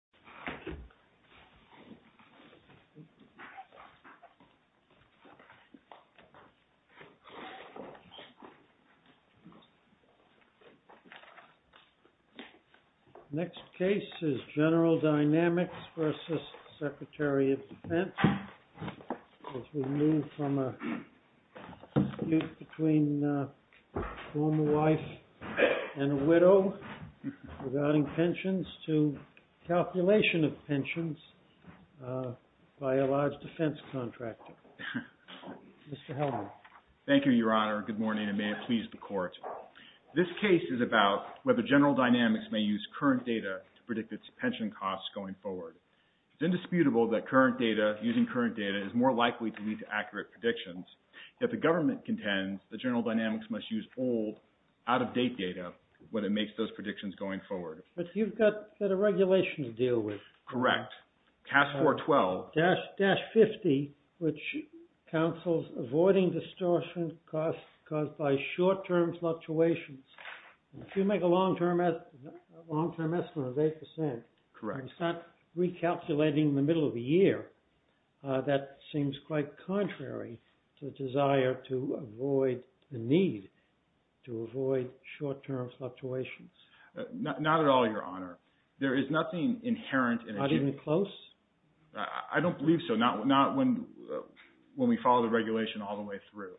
GENERAL DYNAMICS v. DEFENSE Next case is GENERAL DYNAMICS v. SECRETARY OF DEFENSE, as we move from a dispute between a former wife and a widow regarding pensions to calculation of pensions by a large defense contractor. Mr. Hellman. MR. HELLMAN Thank you, Your Honor. Good morning, and may it please the Court. This case is about whether General Dynamics may use current data to predict its pension costs going forward. It is indisputable that current data, using current data, is more likely to lead to accurate predictions. Yet the government contends that General Dynamics must use old, out-of-date data when it makes those predictions going forward. JUDGE LEBEN But you've got a set of regulations to deal with. HELLMAN Correct. CAST 412. JUDGE LEBEN Dash 50, which counsels avoiding distortion caused by short-term fluctuations. If you make a long-term estimate of 8 percent and start recalculating in the middle of the year, that seems quite contrary to the desire to avoid the need to avoid short-term fluctuations. HELLMAN Not at all, Your Honor. JUDGE LEBEN Not even close? HELLMAN I don't believe so. Not when we follow the regulation all the way through.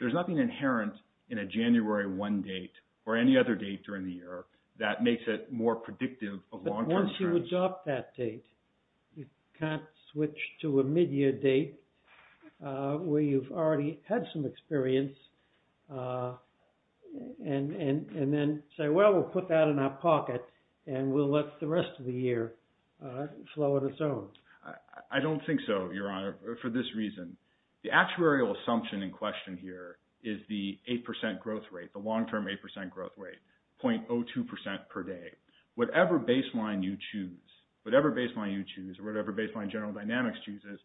There's nothing inherent in a January 1 date or any other date during the year that makes it more predictive of long-term trends. You can't adopt that date. You can't switch to a mid-year date where you've already had some experience, and then say, well, we'll put that in our pocket, and we'll let the rest of the year flow on its own. HELLMAN I don't think so, Your Honor, for this reason. The actuarial assumption in question here is the 8 percent growth rate, the long-term 8 percent growth rate, .02 percent per day. Whatever baseline you choose, whatever baseline you choose, or whatever baseline General Dynamics chooses,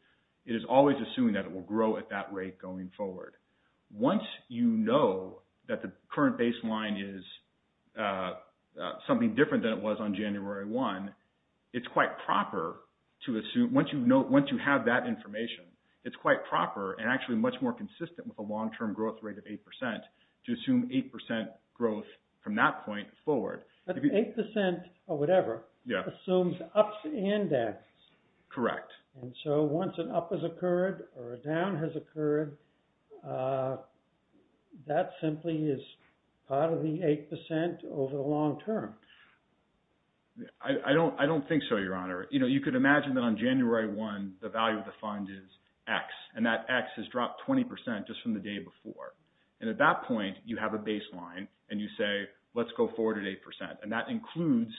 it is always assuming that it will grow at that rate going forward. Once you know that the current baseline is something different than it was on January 1, it's quite proper to assume, once you have that information, it's quite proper and actually much more consistent with a long-term growth rate of 8 percent to assume 8 percent growth from that point forward. But 8 percent, or whatever, assumes ups and downs. And so, once an up has occurred or a down has occurred, that simply is part of the 8 percent over the long-term. GENERAL DYNAMICS I don't think so, Your Honor. You could imagine that on January 1, the value of the fund is X, and that X has dropped 20 percent just from the day before, and at that point, you have a baseline, and you say, let's go forward at 8 percent, and that includes,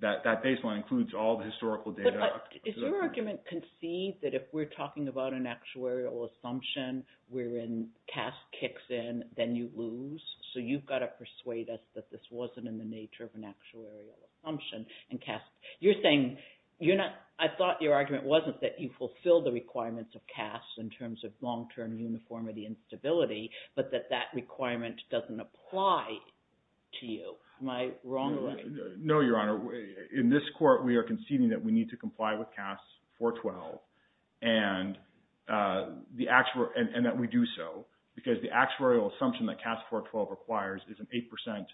that baseline includes all the historical data. But does your argument concede that if we're talking about an actuarial assumption wherein CAS kicks in, then you lose? So, you've got to persuade us that this wasn't in the nature of an actuarial assumption, and CAS, you're saying, you're not, I thought your argument wasn't that you fulfilled the requirements of CAS in terms of long-term uniformity and stability, but that that requirement doesn't apply to you. Am I wrong? GENERAL DYNAMICS No, Your Honor. In this court, we are conceding that we need to comply with CAS 412 and that we do so because the actuarial assumption that CAS 412 requires is an 8 percent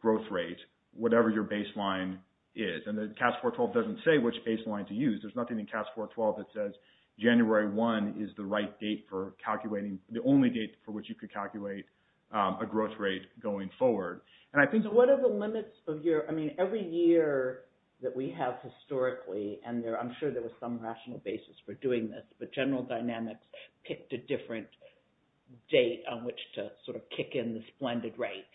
growth rate, whatever your baseline is. And the CAS 412 doesn't say which baseline to use. There's nothing in CAS 412 that says January 1 is the right date for calculating, the only date for which you could calculate a growth rate going forward. And I think... So, what are the limits of your, I mean, every year that we have historically, and I'm sure there was some rational basis for doing this, but General Dynamics picked a different date on which to sort of kick in this blended rate.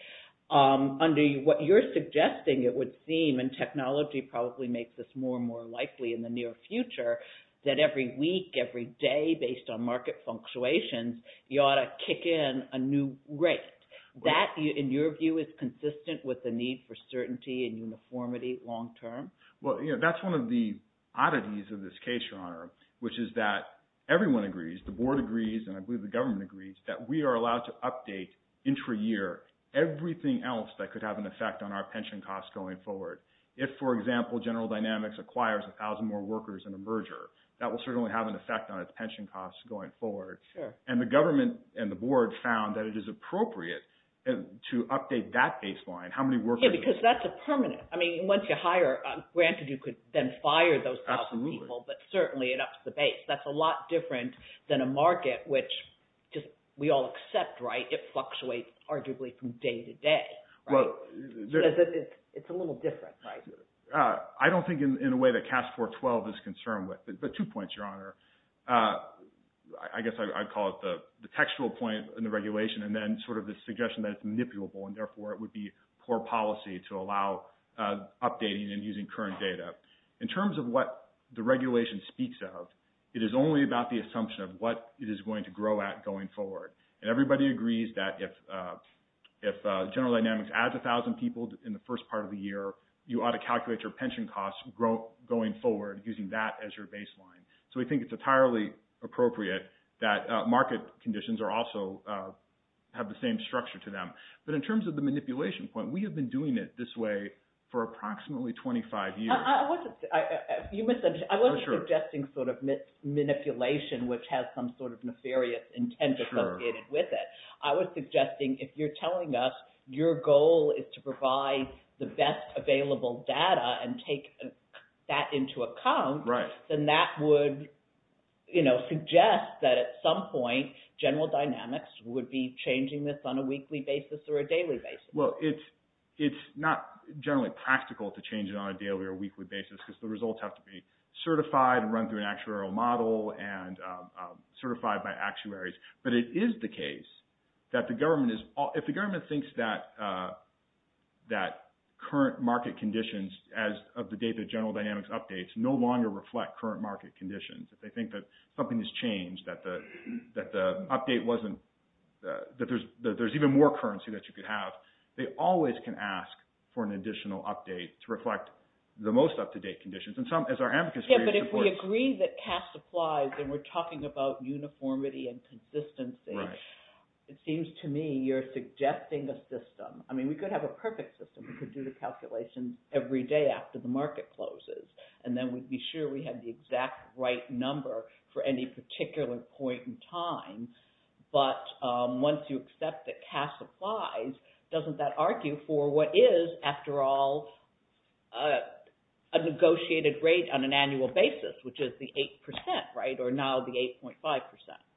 Under what you're suggesting, it would seem, and technology probably makes this more and more likely in the near future, that every week, every day, based on market fluctuations, you ought to kick in a new rate. Right. That, in your view, is consistent with the need for certainty and uniformity long term? Well, you know, that's one of the oddities of this case, Your Honor, which is that everyone agrees, the board agrees, and I believe the government agrees, that we are allowed to update intra-year everything else that could have an effect on our pension costs going forward. If, for example, General Dynamics acquires a thousand more workers in a merger, that will certainly have an effect on its pension costs going forward. Sure. And the government and the board found that it is appropriate to update that baseline. How many workers? Yeah, because that's a permanent. I mean, once you hire, granted, you could then fire those thousand people, but certainly it ups the base. That's a lot different than a market, which we all accept, right, it fluctuates arguably from day to day, right? It's a little different, right? I guess I'd call it the textual point in the regulation, and then sort of the suggestion that it's manipulable, and therefore it would be poor policy to allow updating and using current data. In terms of what the regulation speaks of, it is only about the assumption of what it is going to grow at going forward. And everybody agrees that if General Dynamics adds a thousand people in the first part of the year, you ought to calculate your pension costs going forward using that as your baseline. So we think it's entirely appropriate that market conditions also have the same structure to them. But in terms of the manipulation point, we have been doing it this way for approximately 25 years. I wasn't suggesting sort of manipulation, which has some sort of nefarious intent associated with it. I was suggesting if you're telling us your goal is to provide the best available data and take that into account, then that would suggest that at some point General Dynamics would be changing this on a weekly basis or a daily basis. Well, it's not generally practical to change it on a daily or weekly basis because the results have to be certified and run through an actuarial model and certified by actuaries. But it is the case that if the government thinks that current market conditions as of the date that General Dynamics updates no longer reflect current market conditions, if they think that something has changed, that there's even more currency that you could have, they always can ask for an additional update to reflect the most up-to-date conditions. Yeah, but if we agree that cash supplies, and we're talking about uniformity and consistency, it seems to me you're suggesting a system. I mean, we could have a perfect system. We could do the calculations every day after the market closes, and then we'd be sure we have the exact right number for any particular point in time. But once you accept that cash supplies, doesn't that argue for what is, after all, a negotiated rate on an annual basis, which is the 8%, right, or now the 8.5%?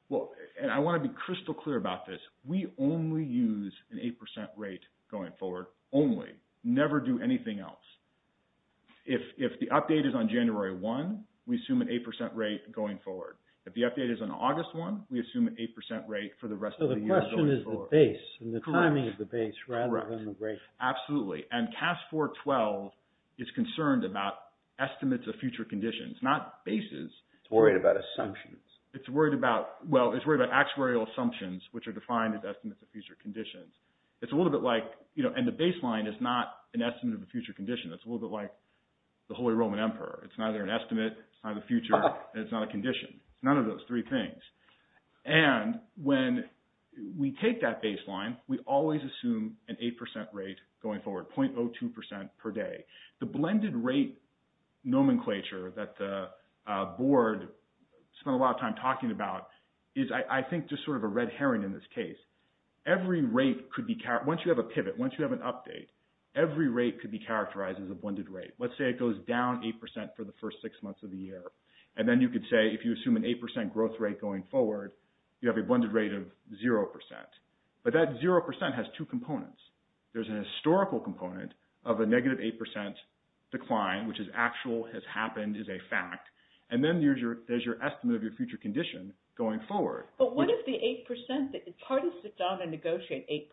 Well, and I want to be crystal clear about this. We only use an 8% rate going forward, only. Never do anything else. If the update is on January 1, we assume an 8% rate going forward. If the update is on August 1, we assume an 8% rate for the rest of the year going forward. So the question is the base and the timing of the base rather than the rate. Correct. Correct. Absolutely. Absolutely. And CAS 412 is concerned about estimates of future conditions, not bases. It's worried about assumptions. It's worried about, well, it's worried about actuarial assumptions, which are defined as estimates of future conditions. It's a little bit like, you know, and the baseline is not an estimate of the future condition. It's a little bit like the Holy Roman Emperor. It's neither an estimate, it's not the future, and it's not a condition. None of those three things. And when we take that baseline, we always assume an 8% rate going forward, 0.02% per day. The blended rate nomenclature that the board spent a lot of time talking about is, I think, just sort of a red herring in this case. Every rate could be, once you have a pivot, once you have an update, every rate could be characterized as a blended rate. Let's say it goes down 8% for the first six months of the year. And then you could say, if you assume an 8% growth rate going forward, you have a blended rate of 0%. But that 0% has two components. There's an historical component of a negative 8% decline, which is actual, has happened, is a fact. And then there's your estimate of your future condition going forward. But what if the 8%, it's hard to sit down and negotiate 8%.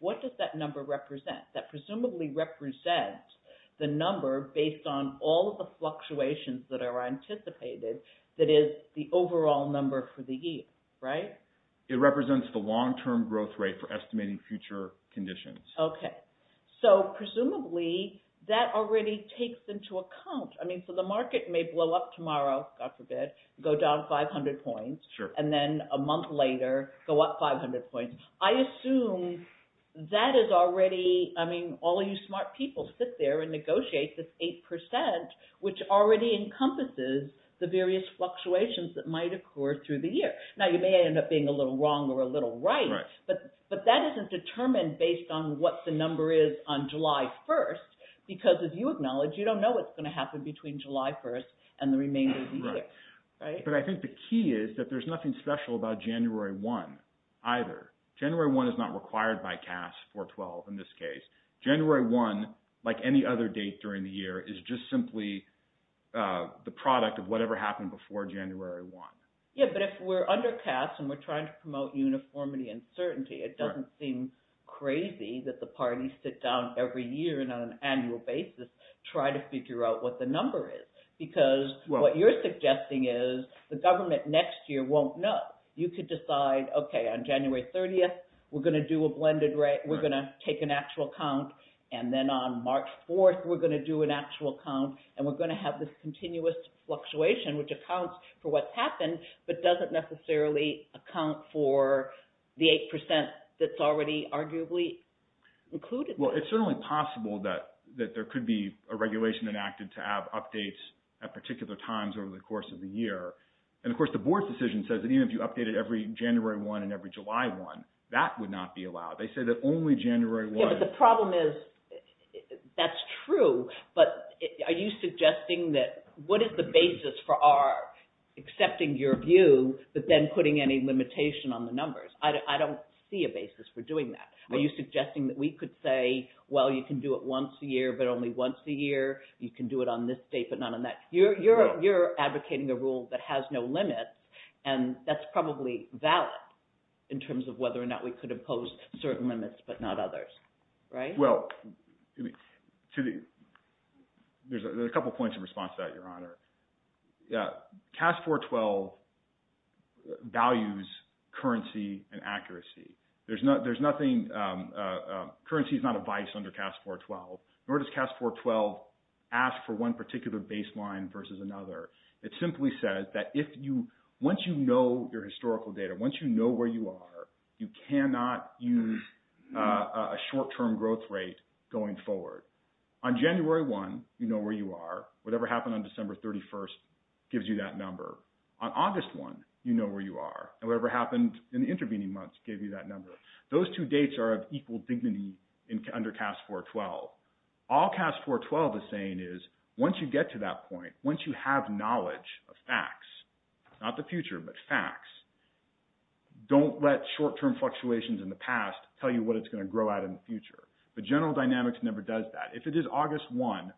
What does that number represent? That presumably represents the number based on all of the fluctuations that are anticipated that is the overall number for the year, right? It represents the long-term growth rate for estimating future conditions. Okay. So presumably, that already takes into account, I mean, so the market may blow up tomorrow, God forbid, go down 500 points. Sure. And then a month later, go up 500 points. I assume that is already, I mean, all of you smart people sit there and negotiate this 8%, which already encompasses the various fluctuations that might occur through the year. Now, you may end up being a little wrong or a little right. Right. But that isn't determined based on what the number is on July 1st, because if you acknowledge, you don't know what's going to happen between July 1st and the remainder of the year. Right. But I think the key is that there's nothing special about January 1 either. January 1 is not required by CAS 412 in this case. January 1, like any other date during the year, is just simply the product of whatever happened before January 1. Yeah, but if we're under CAS and we're trying to promote uniformity and certainty, it doesn't seem crazy that the parties sit down every year and on an annual basis, try to figure out what the number is. Because what you're suggesting is the government next year won't know. You could decide, okay, on January 30th, we're going to do a blended rate, we're going to take an actual count, and then on March 4th, we're going to do an actual count, and we're going to have this continuous fluctuation, which accounts for what's happened, but doesn't necessarily account for the 8% that's already arguably included. Well, it's certainly possible that there could be a regulation enacted to have updates at particular times over the course of the year. And of course, the board's decision says that even if you updated every January 1 and every July 1, that would not be allowed. They say that only January 1. Yeah, but the problem is, that's true, but are you suggesting that, what is the basis for our accepting your view, but then putting any limitation on the numbers? I don't see a basis for doing that. Are you suggesting that we could say, well, you can do it once a year, but only once a year? You can do it on this date, but not on that? You're advocating a rule that has no limits, and that's probably valid in terms of whether or not we could impose certain limits, but not others, right? Well, there's a couple of points in response to that, Your Honor. CAS 412 values currency and accuracy. There's nothing, currency is not a vice under CAS 412, nor does CAS 412 ask for one particular baseline versus another. It simply says that once you know your historical data, once you know where you are, you cannot use a short-term growth rate going forward. On January 1, you know where you are. Whatever happened on December 31st gives you that number. On August 1, you know where you are, and whatever happened in the intervening months gave you that number. Those two dates are of equal dignity under CAS 412. All CAS 412 is saying is, once you get to that point, once you have knowledge of facts, not the future, but facts, don't let short-term fluctuations in the past tell you what it's going to grow out in the future. But general dynamics never does that. If it is August 1,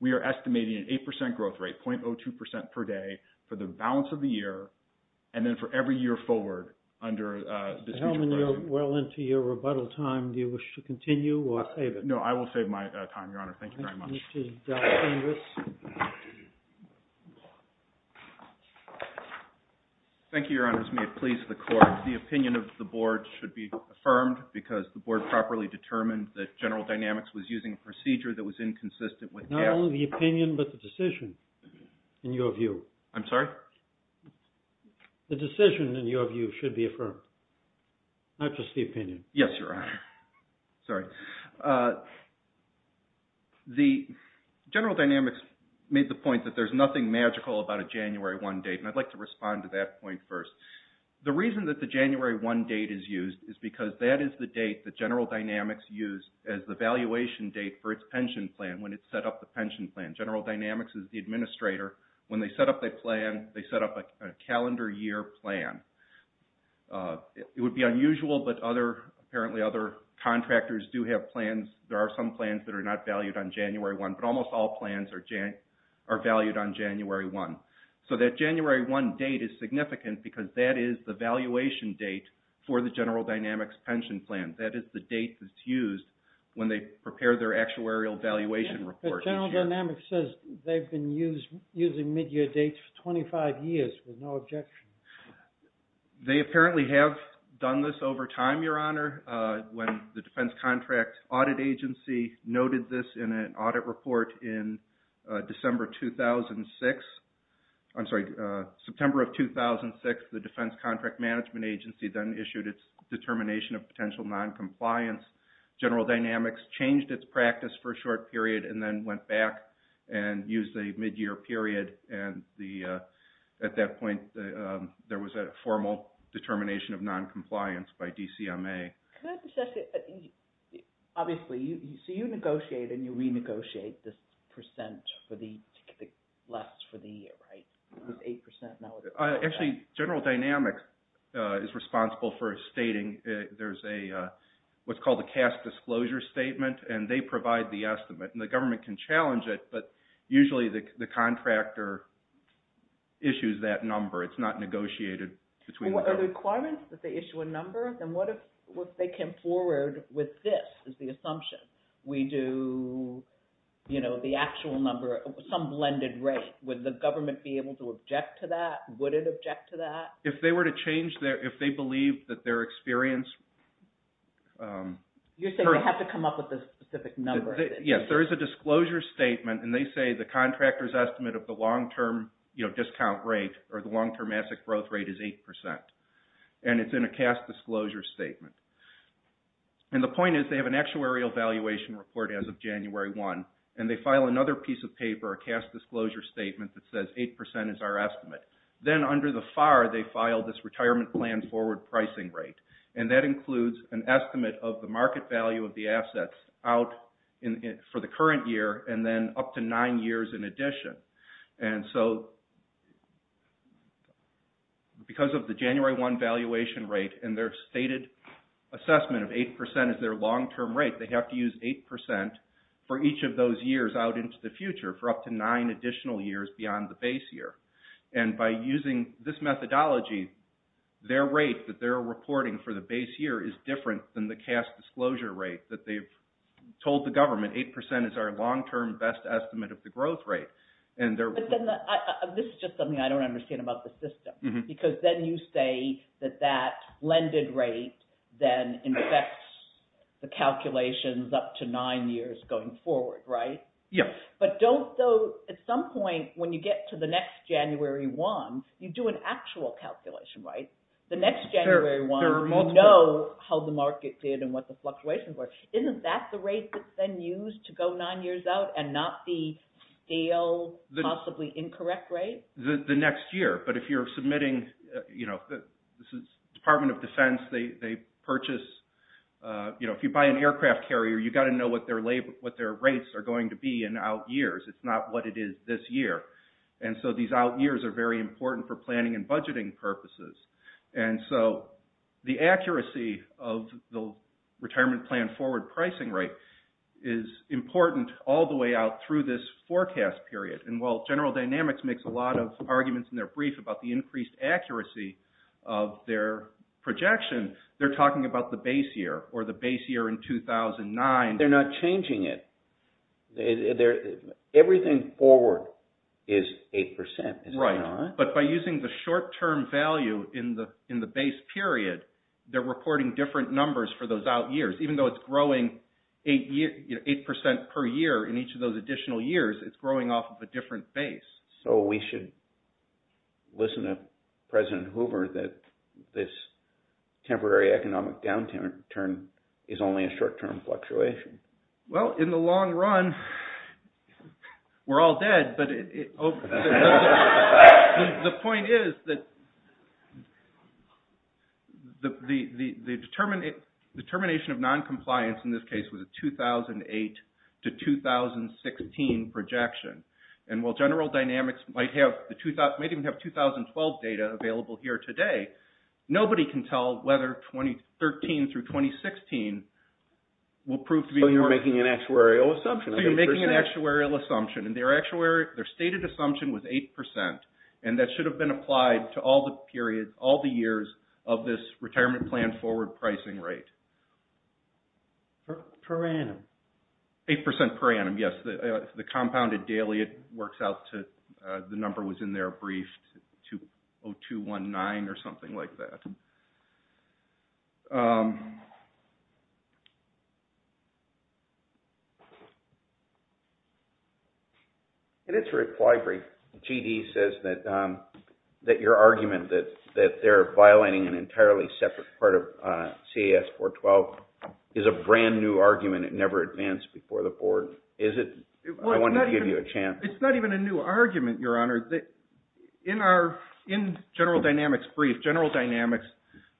we are estimating an 8% growth rate, 0.02% per day for the balance of the year, and then for every year forward under the speech of the President. Mr. Hellman, you're well into your rebuttal time. Do you wish to continue or save it? No, I will save my time, Your Honor. Thank you very much. Thank you, Mr. Douglas. Thank you, Your Honors. May it please the Court, the opinion of the Board should be affirmed because the Board properly determined that general dynamics was using a procedure that was inconsistent with CAS. Not only the opinion, but the decision, in your view. I'm sorry? The decision, in your view, should be affirmed, not just the opinion. Yes, Your Honor. Sorry. The general dynamics made the point that there's nothing magical about a January 1 date, and I'd like to respond to that point first. The reason that the January 1 date is used is because that is the date that general dynamics used as the valuation date for its pension plan when it set up the pension plan. General dynamics is the administrator. When they set up the plan, they set up a calendar year plan. It would be unusual, but apparently other contractors do have plans. There are some plans that are not valued on January 1, but almost all plans are valued on January 1. So that January 1 date is significant because that is the valuation date for the general dynamics pension plan. That is the date that's used when they prepare their actuarial valuation report. General dynamics says they've been using mid-year dates for 25 years with no objection. They apparently have done this over time, Your Honor. When the defense contract audit agency noted this in an audit report in December 2006, I'm sorry, September of 2006, the defense contract management agency then issued its determination of potential noncompliance. General dynamics changed its practice for a short period and then went back and used a mid-year period. At that point, there was a formal determination of noncompliance by DCMA. Obviously, so you negotiate and you renegotiate this percent for the last for the year, right? With 8% now. Actually, general dynamics is responsible for stating. There's what's called a cast disclosure statement, and they provide the estimate. The government can challenge it, but usually the contractor issues that number. It's not negotiated between the two. If there are requirements that they issue a number, then what if they came forward with this as the assumption? We do the actual number, some blended rate. Would the government be able to object to that? Would it object to that? If they were to change their, if they believed that their experience. You're saying they have to come up with a specific number. Yes, there is a disclosure statement, and they say the contractor's estimate of the discount rate or the long-term asset growth rate is 8%, and it's in a cast disclosure statement. The point is they have an actuarial valuation report as of January 1, and they file another piece of paper, a cast disclosure statement that says 8% is our estimate. Then under the FAR, they file this retirement plan forward pricing rate, and that includes an estimate of the market value of the assets out for the current year and then up to nine years in addition. And so because of the January 1 valuation rate and their stated assessment of 8% as their long-term rate, they have to use 8% for each of those years out into the future for up to nine additional years beyond the base year. And by using this methodology, their rate that they're reporting for the base year is different than the cast disclosure rate that they've told the government 8% is our long-term best estimate of the growth rate. This is just something I don't understand about the system, because then you say that that blended rate then infects the calculations up to nine years going forward, right? Yes. But don't those, at some point when you get to the next January 1, you do an actual calculation, right? The next January 1, you know how the market did and what the fluctuations were. Isn't that the rate that's then used to go nine years out and not the stale, possibly incorrect rate? The next year. But if you're submitting, you know, the Department of Defense, they purchase, you know, if you buy an aircraft carrier, you've got to know what their rates are going to be in out years. It's not what it is this year. And so these out years are very important for planning and budgeting purposes. And so the accuracy of the retirement plan forward pricing rate is important all the way out through this forecast period. And while General Dynamics makes a lot of arguments in their brief about the increased accuracy of their projection, they're talking about the base year or the base year in 2009. They're not changing it. Everything forward is 8%. Right. But by using the short-term value in the base period, they're reporting different numbers for those out years. Even though it's growing 8% per year in each of those additional years, it's growing off of a different base. So we should listen to President Hoover that this temporary economic downturn is only a short-term fluctuation. Well, in the long run, we're all dead, but the point is that the determination of noncompliance in this case was a 2008 to 2016 projection. And while General Dynamics might even have 2012 data available here today, nobody can tell whether 2013 through 2016 will prove to be... So you're making an actuarial assumption. So you're making an actuarial assumption. And their stated assumption was 8%. And that should have been applied to all the periods, all the years of this retirement plan forward pricing rate. Per annum. 8% per annum, yes. The compounded daily, it works out to... They are briefed to 0219 or something like that. In its reply brief, G.D. says that your argument that they're violating an entirely separate part of CAS 412 is a brand new argument. It never advanced before the board. Is it? I want to give you a chance. It's not even a new argument, Your Honor. In General Dynamics' brief, General Dynamics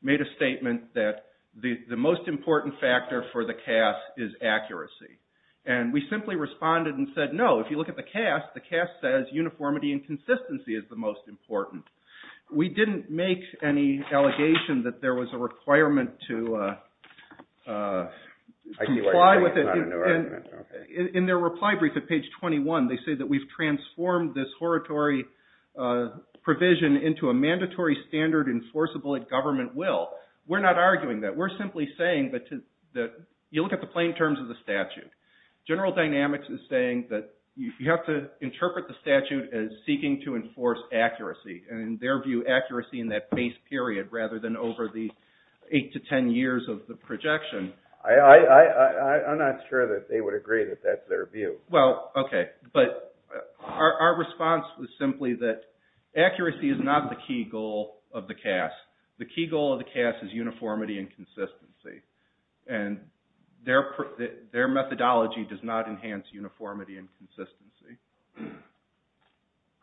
made a statement that the most important factor for the CAS is accuracy. And we simply responded and said no. If you look at the CAS, the CAS says uniformity and consistency is the most important. We didn't make any allegation that there was a requirement to comply with it. In their reply brief at page 21, they say that we've transformed this horatory provision into a mandatory standard enforceable at government will. We're not arguing that. We're simply saying that you look at the plain terms of the statute. General Dynamics is saying that you have to interpret the statute as seeking to enforce accuracy, and in their view, accuracy in that base period rather than over the 8 to 10 years of the projection. I'm not sure that they would agree that that's their view. Well, OK. But our response was simply that accuracy is not the key goal of the CAS. The key goal of the CAS is uniformity and consistency. And their methodology does not enhance uniformity and consistency.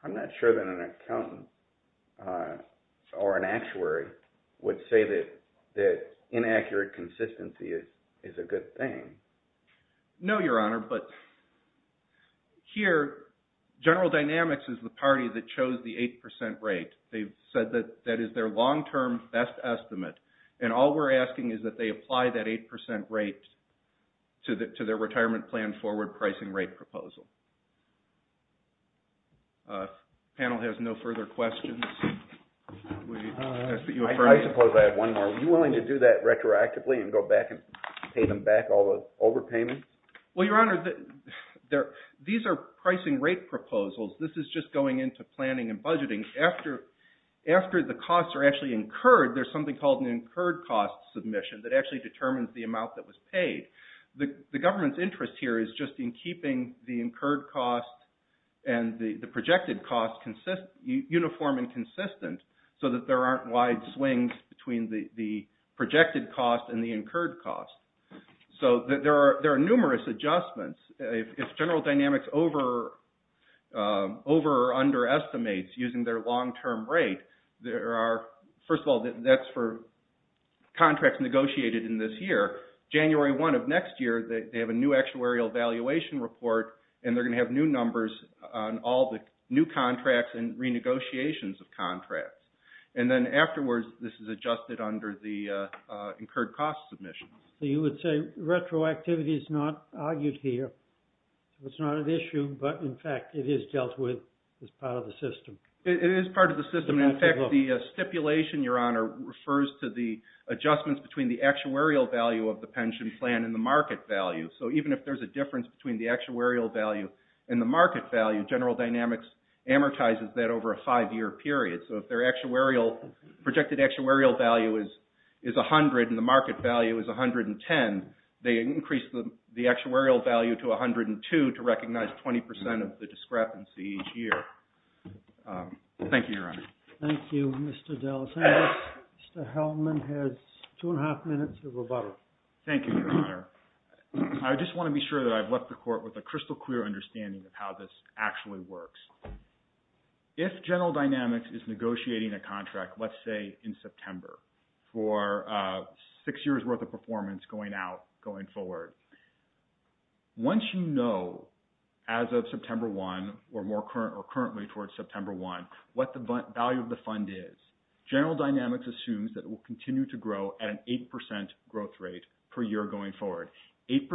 I'm not sure that an accountant or an actuary would say that inaccurate consistency is a good thing. No, Your Honor. But here, General Dynamics is the party that chose the 8% rate. They've said that that is their long-term best estimate. And all we're asking is that they apply that 8% rate to their retirement plan forward pricing rate proposal. The panel has no further questions. I suppose I have one more. Are you willing to do that retroactively and go back and pay them back all the overpayments? Well, Your Honor, these are pricing rate proposals. This is just going into planning and budgeting. After the costs are actually incurred, there's something called an incurred cost submission that actually determines the amount that was paid. The government's interest here is just in keeping the incurred cost and the projected cost uniform and consistent so that there aren't wide swings between the projected cost and the incurred cost. So there are numerous adjustments. If General Dynamics over or underestimates using their long-term rate, there are, first of all, that's for contracts negotiated in this year. January 1 of next year, they have a new actuarial valuation report, and they're going to have new numbers on all the new contracts and renegotiations of contracts. And then afterwards, this is adjusted under the incurred cost submission. So you would say retroactivity is not argued here. It's not an issue, but, in fact, it is dealt with as part of the system. It is part of the system. In fact, the stipulation, Your Honor, refers to the adjustments between the actuarial value of the pension plan and the market value. So even if there's a difference between the actuarial value and the market value, General Dynamics amortizes that over a five-year period. So if their projected actuarial value is 100 and the market value is 110, they increase the actuarial value to 102 to recognize 20% of the discrepancy each year. Thank you, Your Honor. Thank you, Mr. DelSantis. Mr. Hellman has two and a half minutes of rebuttal. Thank you, Your Honor. I just want to be sure that I've left the Court with a crystal clear understanding of how this actually works. If General Dynamics is negotiating a contract, let's say in September, for six years' worth of performance going out, going forward, once you know as of September 1 or currently towards September 1 what the value of the fund is, General Dynamics assumes that it will continue to grow at an 8% growth rate per year going forward, 8%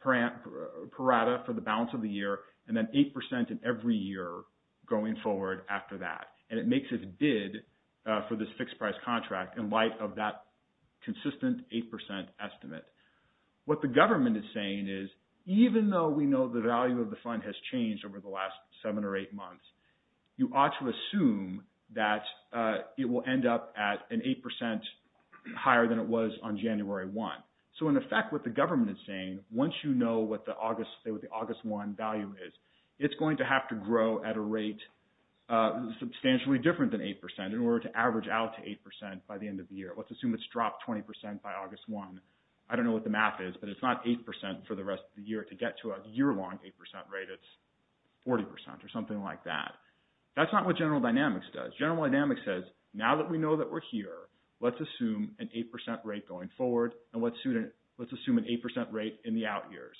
per annum for the balance of the year and then 8% in every year going forward after that. And it makes its bid for this fixed-price contract in light of that consistent 8% estimate. What the government is saying is even though we know the value of the fund has changed over the last seven or eight months, you ought to assume that it will end up at an 8% higher than it was on January 1. So, in effect, what the government is saying, once you know what the August 1 value is, it's going to have to grow at a rate substantially different than 8% in order to average out to 8% by the end of the year. Let's assume it's dropped 20% by August 1. I don't know what the math is, but it's not 8% for the rest of the year. To get to a year-long 8% rate, it's 40% or something like that. That's not what General Dynamics does. General Dynamics says, now that we know that we're here, let's assume an 8% rate going forward, and let's assume an 8% rate in the out years.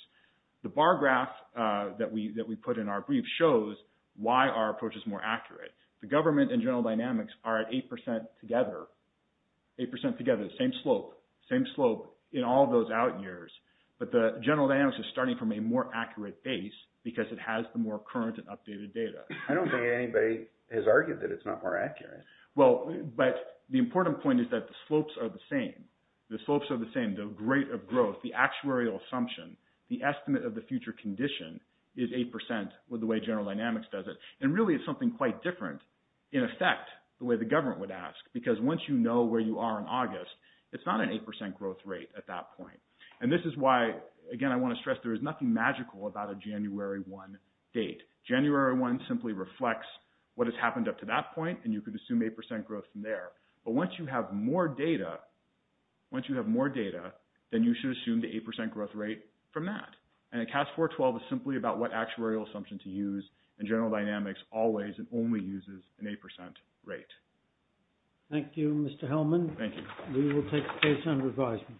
The bar graph that we put in our brief shows why our approach is more accurate. The government and General Dynamics are at 8% together, 8% together, the same slope, same slope in all those out years. But General Dynamics is starting from a more accurate base because it has the more current and updated data. I don't think anybody has argued that it's not more accurate. Well, but the important point is that the slopes are the same. The slopes are the same. The rate of growth, the actuarial assumption, the estimate of the future condition is 8% with the way General Dynamics does it. And really, it's something quite different, in effect, the way the government would ask, because once you know where you are in August, it's not an 8% growth rate at that point. And this is why, again, I want to stress there is nothing magical about a January 1 date. January 1 simply reflects what has happened up to that point, and you could assume 8% growth from there. But once you have more data, once you have more data, then you should assume the 8% growth rate from that. And a CAS 412 is simply about what actuarial assumption to use, and General Dynamics always and only uses an 8% rate. Thank you, Mr. Hellman. Thank you. We will take the case under advisement.